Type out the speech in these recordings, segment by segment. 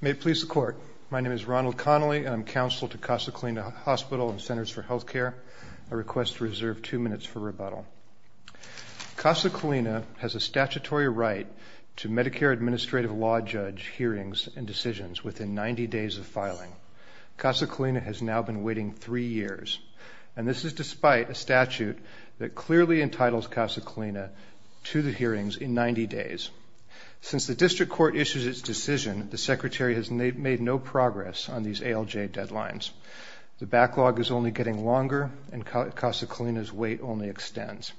May it please the Court, my name is Ronald Connolly and I'm counsel to Casa Colina Hospital and Centers for Health Care. I request to reserve two minutes for rebuttal. Casa Colina has a statutory right to Medicare Administrative Law Judge hearings and decisions within 90 days of filing. Casa Colina has now been waiting three years, and this is despite a statute that clearly entitles Casa Colina to the hearings in 90 days. Since the District Court issued its decision, the Secretary has made no progress on these ALJ deadlines. The backlog is only getting longer, and Casa Colina's wait only extends.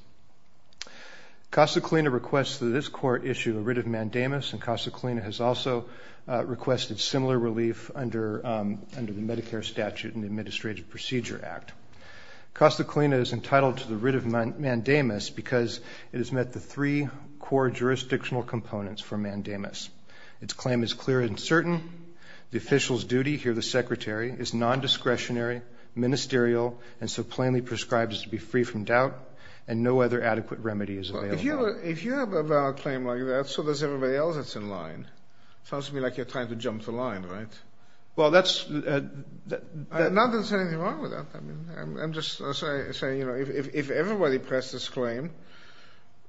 Casa Colina requests that this Court issue a writ of mandamus, and Casa Colina has also requested similar relief under the Medicare Statute and Administrative Procedure Act. Casa Colina is entitled to the writ of mandamus because it has met the three core jurisdictional components for mandamus. Its claim is clear and certain. The official's duty here, the Secretary, is non-discretionary, ministerial, and so plainly prescribed as to be free from doubt, and no other adequate remedy is available. Well, if you have a valid claim like that, so does everybody else that's in line. Sounds to me like you're trying to jump the line, right? Well, that's... Not that there's anything wrong with that. I'm just saying, you know, if everybody pressed this claim,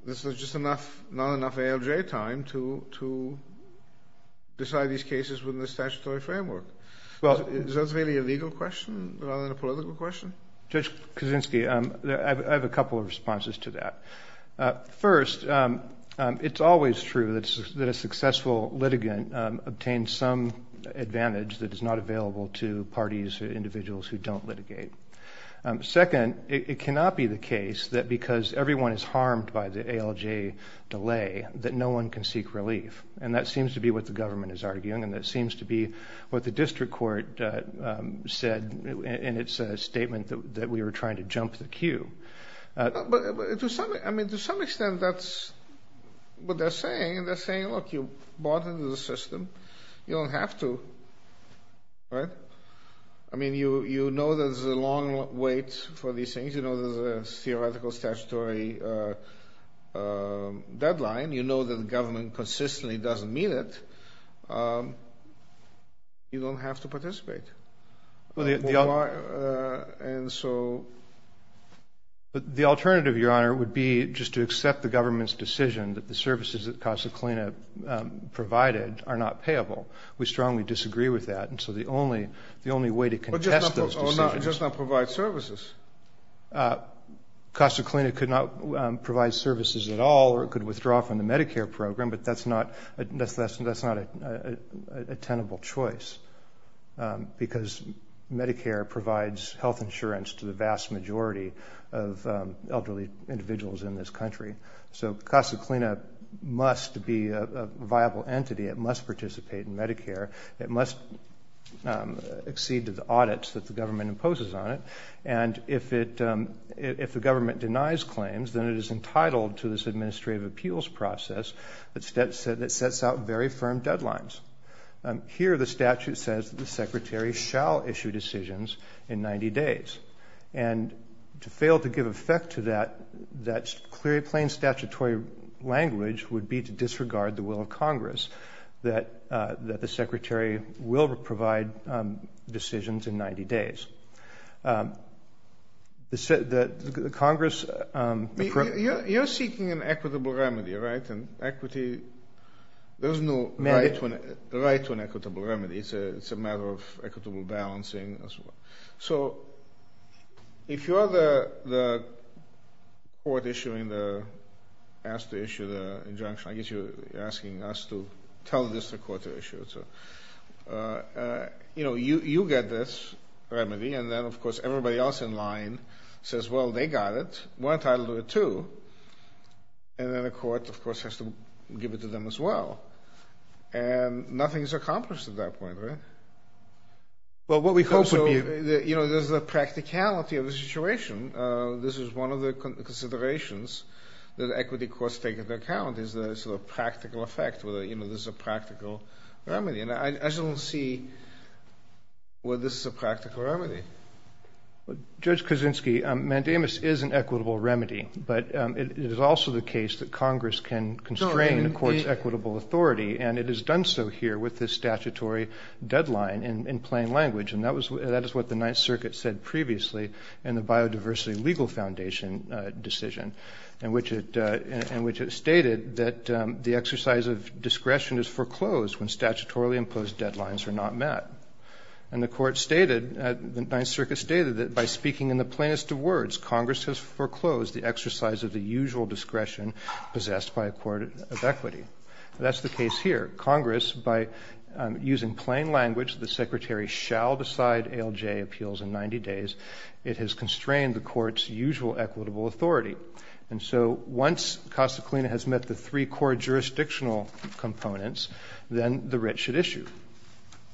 there's just not enough ALJ time to decide these cases within the statutory framework. Is that really a legal question rather than a political question? Judge Kuczynski, I have a couple of responses to that. First, it's always true that a successful litigant obtains some advantage that is not available to parties or individuals who don't litigate. Second, it cannot be the case that because everyone is harmed by the ALJ delay that no one can seek relief. And that seems to be what the government is arguing, and that seems to be what the district court said in its statement that we were trying to jump the queue. But to some extent, that's what they're saying. They're saying, look, you bought into the system. You don't have to, right? I mean, you know there's a long wait for these things. You know there's a theoretical statutory deadline. You know that the government consistently doesn't meet it. You don't have to participate. And so? The alternative, Your Honor, would be just to accept the government's decision that the services that Casa Clina provided are not payable. We strongly disagree with that, and so the only way to contest those decisions is to- Just not provide services. Casa Clina could not provide services at all, or it could withdraw from the Medicare program, but that's not a tenable choice. Because Medicare provides health insurance to the vast majority of elderly individuals in this country. So Casa Clina must be a viable entity. It must participate in Medicare. It must accede to the audits that the government imposes on it. And if the government denies claims, then it is entitled to this administrative appeals process that sets out very firm deadlines. Here the statute says that the secretary shall issue decisions in 90 days. And to fail to give effect to that, that's clearly plain statutory language would be to disregard the will of Congress that the secretary will provide decisions in 90 days. The Congress- You're seeking an equitable remedy, right? An equity- There's no right to an equitable remedy. It's a matter of equitable balancing. So if you are the court issuing the- asked to issue the injunction, I guess you're asking us to tell the district court to issue it. You get this remedy, and then of course everybody else in line says, well, they got it. We're entitled to it, too. And then the court, of course, has to give it to them as well. And nothing is accomplished at that point, right? Well, what we hope would be- So, you know, there's the practicality of the situation. This is one of the considerations that equity courts take into account is the sort of practical effect, whether, you know, this is a practical remedy. And I just don't see where this is a practical remedy. Judge Kaczynski, mandamus is an equitable remedy. But it is also the case that Congress can constrain the court's equitable authority, and it has done so here with this statutory deadline in plain language. And that is what the Ninth Circuit said previously in the Biodiversity Legal Foundation decision, in which it stated that the exercise of discretion is foreclosed when statutorily imposed deadlines are not met. And the court stated, the Ninth Circuit stated that by speaking in the plainest of words, Congress has foreclosed the exercise of the usual discretion possessed by a court of equity. That's the case here. Congress, by using plain language, the Secretary shall decide ALJ appeals in 90 days. It has constrained the court's usual equitable authority. And so once casa clina has met the three core jurisdictional components, then the writ should issue.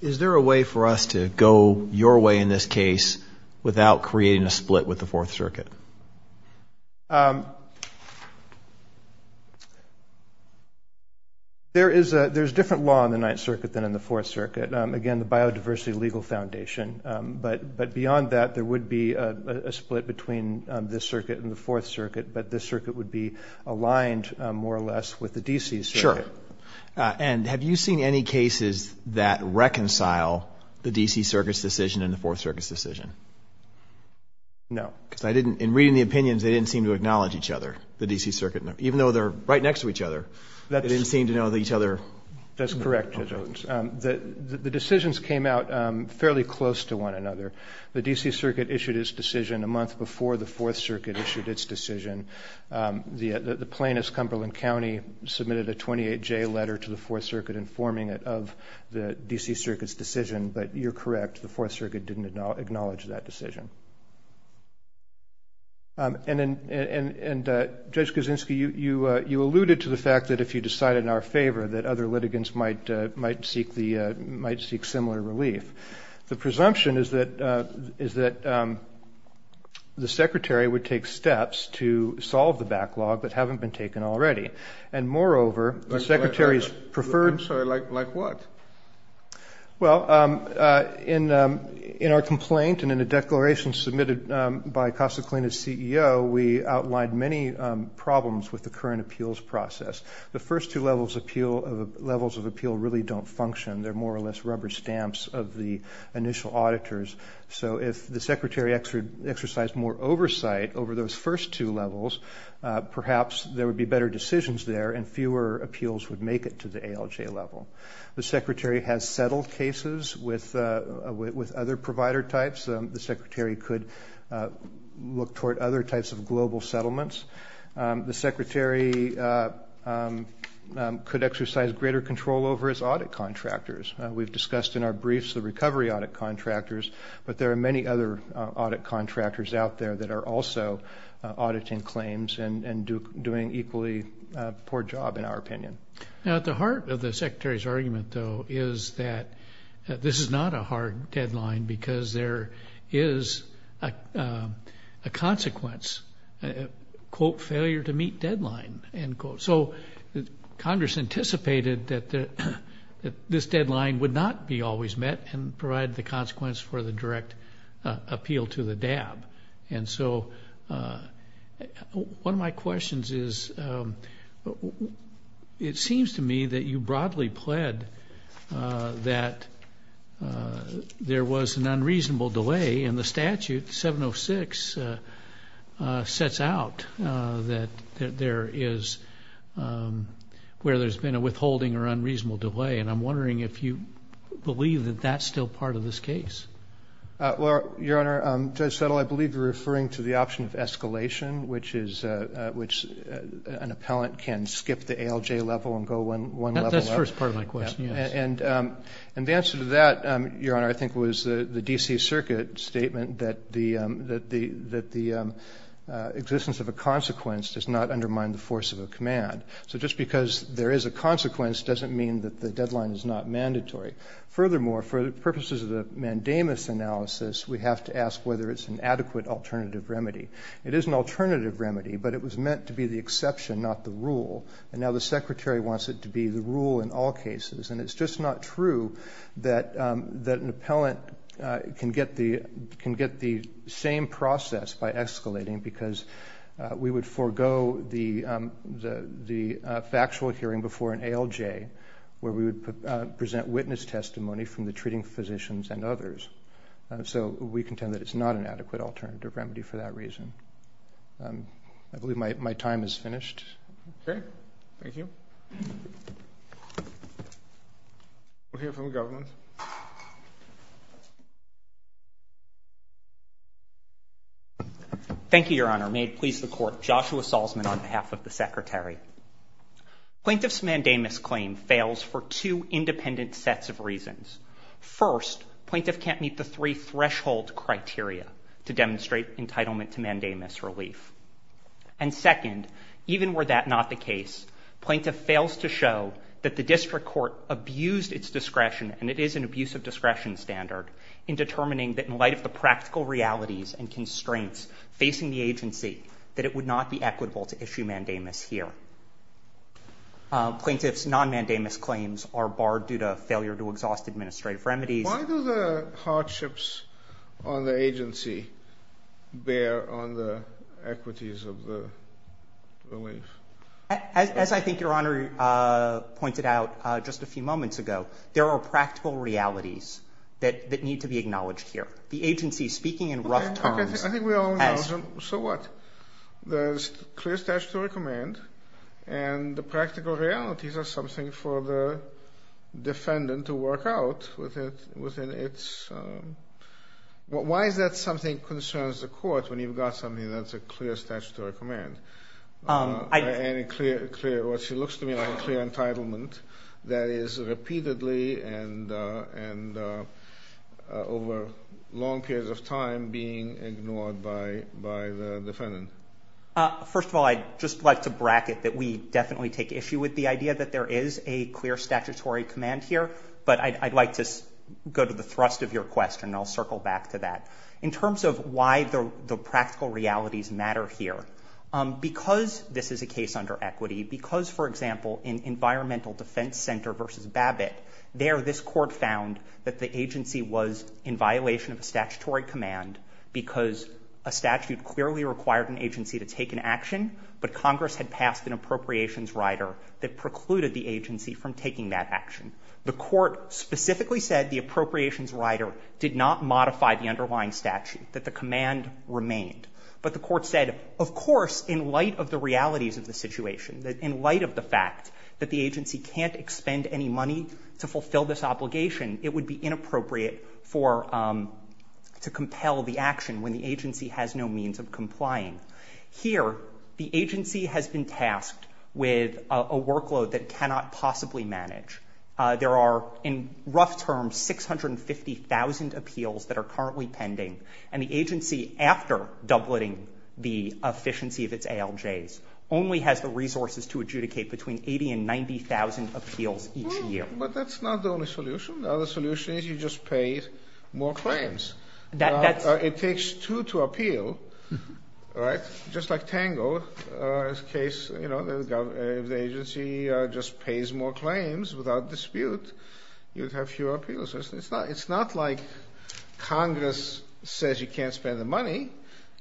Is there a way for us to go your way in this case without creating a split with the Fourth Circuit? There is a different law in the Ninth Circuit than in the Fourth Circuit. Again, the Biodiversity Legal Foundation. But beyond that, there would be a split between this circuit and the Fourth Circuit, but this circuit would be aligned more or less with the D.C. Circuit. Sure. And have you seen any cases that reconcile the D.C. Circuit's decision and the Fourth Circuit's decision? No. Because I didn't. In reading the opinions, they didn't seem to acknowledge each other, the D.C. Circuit. Even though they're right next to each other, they didn't seem to know each other. That's correct. The decisions came out fairly close to one another. The D.C. Circuit issued its decision a month before the Fourth Circuit issued its decision. The plaintiff's, Cumberland County, submitted a 28-J letter to the Fourth Circuit informing it of the D.C. Circuit's decision. But you're correct. The Fourth Circuit didn't acknowledge that decision. And, Judge Kaczynski, you alluded to the fact that if you decide in our favor that other litigants might seek similar relief. The presumption is that the Secretary would take steps to solve the backlog that haven't been taken already. And, moreover, the Secretary's preferred. I'm sorry. Like what? Well, in our complaint and in a declaration submitted by Casa Colina's CEO, we outlined many problems with the current appeals process. The first two levels of appeal really don't function. They're more or less rubber stamps of the initial auditors. So if the Secretary exercised more oversight over those first two levels, perhaps there would be better decisions there and fewer appeals would make it to the ALJ level. The Secretary has settled cases with other provider types. The Secretary could look toward other types of global settlements. The Secretary could exercise greater control over his audit contractors. We've discussed in our briefs the recovery audit contractors, but there are many other audit contractors out there that are also auditing claims and doing an equally poor job, in our opinion. Now, at the heart of the Secretary's argument, though, is that this is not a hard deadline because there is a consequence, quote, failure to meet deadline, end quote. So Congress anticipated that this deadline would not be always met and provided the consequence for the direct appeal to the DAB. And so one of my questions is, it seems to me that you broadly pled that there was an unreasonable delay, and the statute, 706, sets out that there is where there's been a withholding or unreasonable delay, and I'm wondering if you believe that that's still part of this case. Well, Your Honor, Judge Settle, I believe you're referring to the option of escalation, which an appellant can skip the ALJ level and go one level up. That's the first part of my question, yes. And the answer to that, Your Honor, I think was the D.C. Circuit statement that the existence of a consequence does not undermine the force of a command. So just because there is a consequence doesn't mean that the deadline is not mandatory. Furthermore, for the purposes of the mandamus analysis, we have to ask whether it's an adequate alternative remedy. It is an alternative remedy, but it was meant to be the exception, not the rule, and now the Secretary wants it to be the rule in all cases. And it's just not true that an appellant can get the same process by escalating because we would forego the factual hearing before an ALJ where we would present witness testimony from the treating physicians and others. So we contend that it's not an adequate alternative remedy for that reason. I believe my time is finished. Okay. Thank you. We'll hear from the government. Thank you. Thank you, Your Honor. May it please the Court, Joshua Salzman on behalf of the Secretary. Plaintiff's mandamus claim fails for two independent sets of reasons. First, plaintiff can't meet the three threshold criteria to demonstrate entitlement to mandamus relief. And second, even were that not the case, plaintiff fails to show that the district court abused its discretion, and it is an abuse of discretion standard, in determining that in light of the practical realities and constraints facing the agency, that it would not be equitable to issue mandamus here. Plaintiff's non-mandamus claims are barred due to failure to exhaust administrative remedies. Why do the hardships on the agency bear on the equities of the relief? As I think Your Honor pointed out just a few moments ago, there are practical realities that need to be acknowledged here. The agency, speaking in rough terms. Okay. I think we all know. So what? There's clear statutory command, and the practical realities are something for the defendant to work out within its – why is that something that concerns the court when you've got something that's a clear statutory command? And a clear – what she looks to me like a clear entitlement that is repeatedly and over long periods of time being ignored by the defendant. First of all, I'd just like to bracket that we definitely take issue with the idea that there is a clear statutory command here, but I'd like to go to the thrust of your question, and I'll circle back to that. In terms of why the practical realities matter here, because this is a case under equity, because, for example, in Environmental Defense Center v. Babbitt, there this court found that the agency was in violation of a statutory command because a statute clearly required an agency to take an action, but Congress had passed an appropriations rider that precluded the agency from taking that action. The court specifically said the appropriations rider did not modify the underlying statute, that the command remained. But the court said, of course, in light of the realities of the situation, in light of the fact that the agency can't expend any money to fulfill this obligation, it would be inappropriate for – to compel the action when the agency has no means of complying. Here, the agency has been tasked with a workload that cannot possibly manage There are, in rough terms, 650,000 appeals that are currently pending, and the agency, after doubleting the efficiency of its ALJs, only has the resources to adjudicate between 80,000 and 90,000 appeals each year. But that's not the only solution. The other solution is you just pay more claims. It takes two to appeal, right? Just like Tango, in this case, if the agency just pays more claims without dispute, you would have fewer appeals. It's not like Congress says you can't spend the money.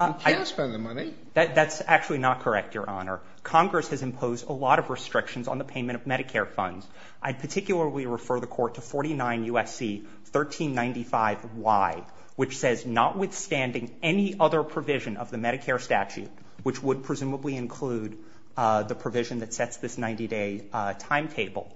You can spend the money. That's actually not correct, Your Honor. Congress has imposed a lot of restrictions on the payment of Medicare funds. I'd particularly refer the court to 49 U.S.C. 1395Y, which says notwithstanding any other provision of the Medicare statute, which would presumably include the provision that sets this 90-day timetable,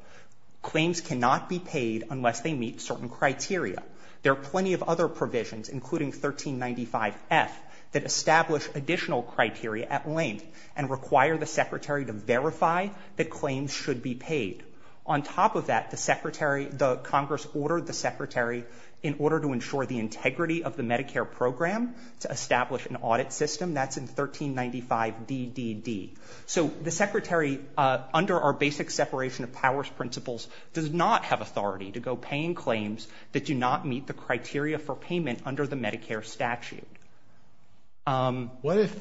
claims cannot be paid unless they meet certain criteria. There are plenty of other provisions, including 1395F, that establish additional criteria at length and require the Secretary to verify that claims should be paid. On top of that, the Secretary – the Congress ordered the Secretary, in order to ensure the integrity of the Medicare program, to establish an audit system. That's in 1395DDD. So the Secretary, under our basic separation of powers principles, does not have authority to go paying claims that do not meet the criteria for payment under the Medicare statute. What if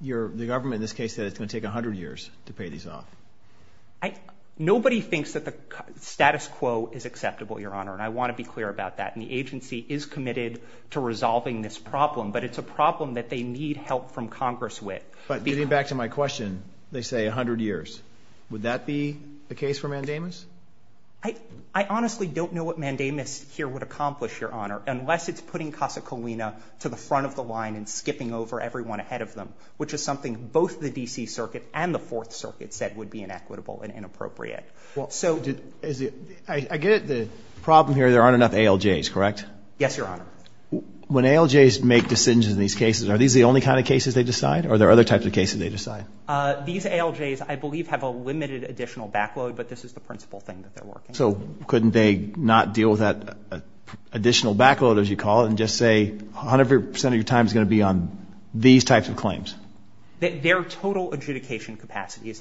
the government in this case said it's going to take 100 years to pay these off? Nobody thinks that the status quo is acceptable, Your Honor, and I want to be clear about that. And the agency is committed to resolving this problem, but it's a problem that they need help from Congress with. But getting back to my question, they say 100 years. Would that be the case for mandamus? I honestly don't know what mandamus here would accomplish, Your Honor, unless it's putting Casa Colina to the front of the line and skipping over everyone ahead of them, which is something both the D.C. Circuit and the Fourth Circuit said would be inequitable and inappropriate. I get it. The problem here, there aren't enough ALJs, correct? Yes, Your Honor. When ALJs make decisions in these cases, are these the only kind of cases they decide or are there other types of cases they decide? These ALJs, I believe, have a limited additional back load, but this is the principal thing that they're working on. So couldn't they not deal with that additional back load, as you call it, and just say 100 percent of your time is going to be on these types of claims? Their total adjudication capacity is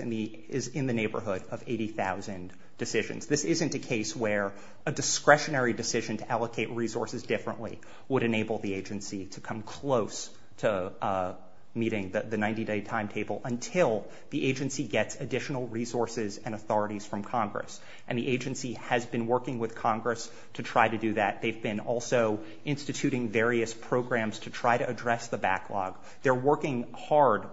in the neighborhood of 80,000 decisions. This isn't a case where a discretionary decision to allocate resources differently would enable the agency to come close to meeting the 90-day timetable until the agency gets additional resources and authorities from Congress. And the agency has been working with Congress to try to do that. They've been also instituting various programs to try to address the backlog. They're working hard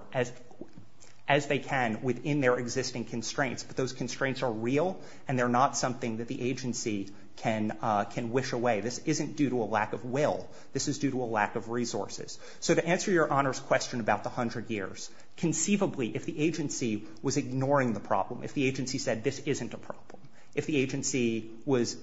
as they can within their existing constraints, but those constraints are real and they're not something that the agency can wish away. This isn't due to a lack of will. This is due to a lack of resources. So to answer Your Honor's question about the 100 years, conceivably, if the agency was ignoring the problem, if the agency said this isn't a problem, if the agency was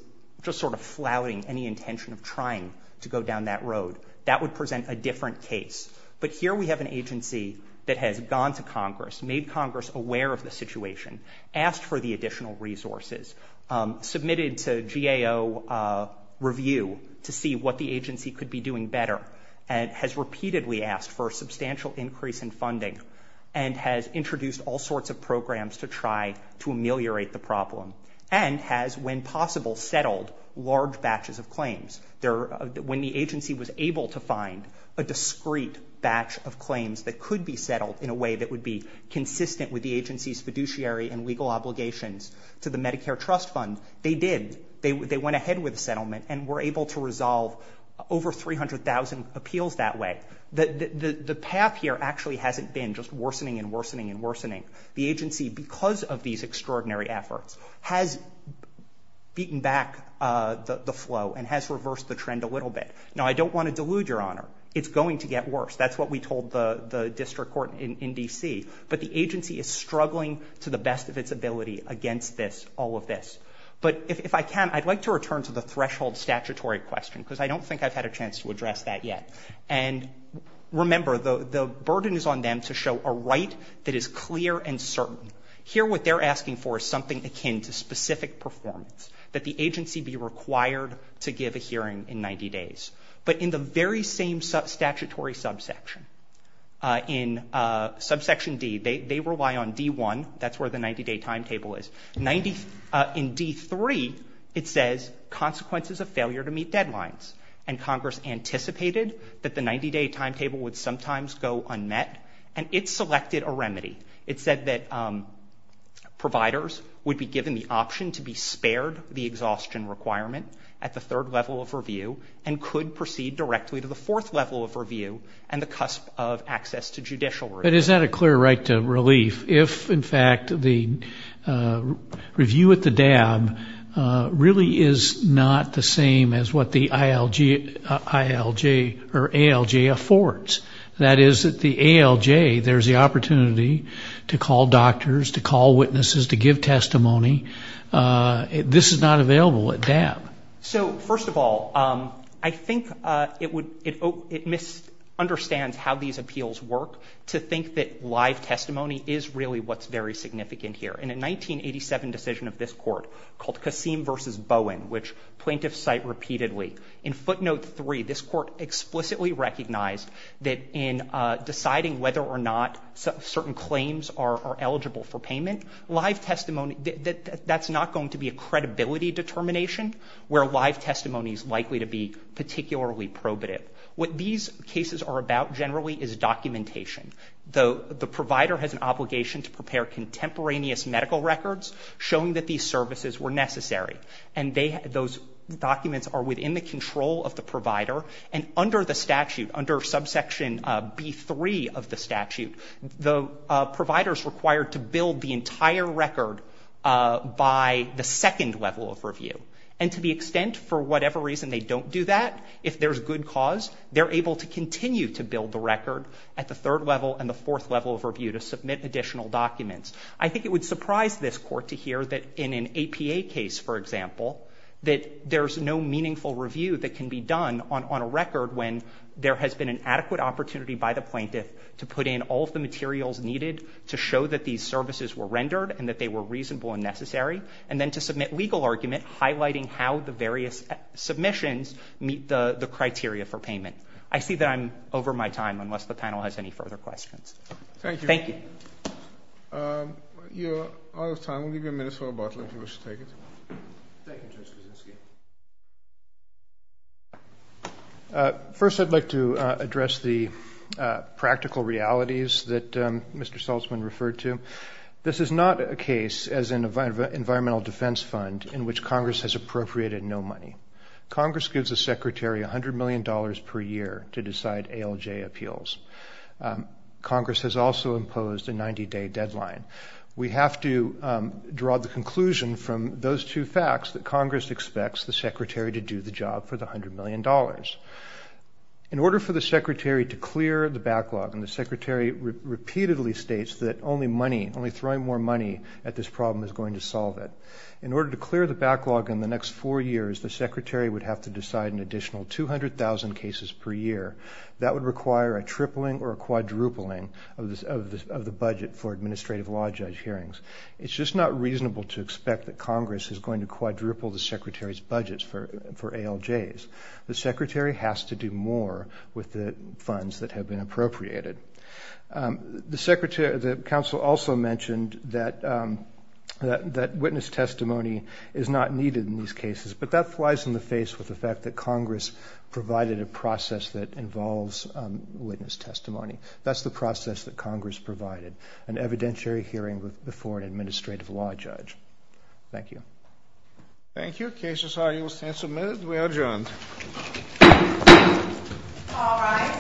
just sort of flouting any intention of trying to go down that road, that would present a different case. But here we have an agency that has gone to Congress, made Congress aware of the situation, asked for the additional resources, submitted to GAO review to see what the agency could be doing better, and has repeatedly asked for a substantial increase in funding and has introduced all sorts of programs to try to ameliorate the problem and has, when possible, settled large batches of claims. When the agency was able to find a discrete batch of claims that could be settled in a way that would be consistent with the agency's fiduciary and legal obligations to the Medicare Trust Fund, they did. They went ahead with the settlement and were able to resolve over 300,000 appeals that way. The path here actually hasn't been just worsening and worsening and worsening. The agency, because of these extraordinary efforts, has beaten back the flow and has reversed the trend a little bit. Now, I don't want to delude Your Honor. It's going to get worse. That's what we told the district court in D.C. But the agency is struggling to the best of its ability against this, all of this. But if I can, I'd like to return to the threshold statutory question because I don't think I've had a chance to address that yet. And remember, the burden is on them to show a right that is clear and certain. Here, what they're asking for is something akin to specific performance, that the agency be required to give a hearing in 90 days. But in the very same statutory subsection, in subsection D, they rely on D1, that's where the 90-day timetable is. In D3, it says consequences of failure to meet deadlines. And Congress anticipated that the 90-day timetable would sometimes go unmet, and it selected a remedy. It said that providers would be given the option to be spared the exhaustion requirement at the third level of review and could proceed directly to the fourth level of review and the cusp of access to judicial review. But is that a clear right to relief if, in fact, the review at the DAB really is not the same as what the ILJ or ALJ affords? That is, at the ALJ, there's the opportunity to call doctors, to call witnesses, to give testimony. This is not available at DAB. So, first of all, I think it misunderstands how these appeals work to think that live testimony is really what's very significant here. In a 1987 decision of this court called Kasim v. Bowen, which plaintiffs cite repeatedly, in footnote 3, this court explicitly recognized that in deciding whether or not certain claims are eligible for payment, live testimony, that's not going to be a credibility determination where live testimony is likely to be particularly probative. What these cases are about generally is documentation. The provider has an obligation to prepare contemporaneous medical records showing that these services were necessary. And those documents are within the control of the provider. And under the statute, under subsection B-3 of the statute, the provider is required to build the entire record by the second level of review. And to the extent, for whatever reason, they don't do that, if there's good cause, they're able to continue to build the record at the third level and the fourth level of review to submit additional documents. I think it would surprise this court to hear that in an APA case, for example, that there's no meaningful review that can be done on a record when there has been an adequate opportunity by the plaintiff to put in all of the materials needed to show that these services were rendered and that they were reasonable and necessary, and then to submit legal argument highlighting how the various submissions meet the criteria for payment. I see that I'm over my time, unless the panel has any further questions. Thank you. You're out of time. We'll give you a minute for a bottle if you wish to take it. Thank you, Judge Kuczynski. First, I'd like to address the practical realities that Mr. Saltzman referred to. This is not a case as an environmental defense fund in which Congress has appropriated no money. Congress gives a secretary $100 million per year to decide ALJ appeals. Congress has also imposed a 90-day deadline. We have to draw the conclusion from those two facts that Congress expects the secretary to do the job for the $100 million. In order for the secretary to clear the backlog, and the secretary repeatedly states that only money, only throwing more money at this problem is going to solve it, in order to clear the backlog in the next four years, the secretary would have to decide an additional 200,000 cases per year. That would require a tripling or a quadrupling of the budget for administrative law judge hearings. It's just not reasonable to expect that Congress is going to quadruple the secretary's budget for ALJs. The secretary has to do more with the funds that have been appropriated. The council also mentioned that witness testimony is not needed in these cases, but that flies in the face with the fact that Congress provided a process that involves witness testimony. That's the process that Congress provided, an evidentiary hearing before an administrative law judge. Thank you. Thank you. Cases are, you will stand submitted. We are adjourned.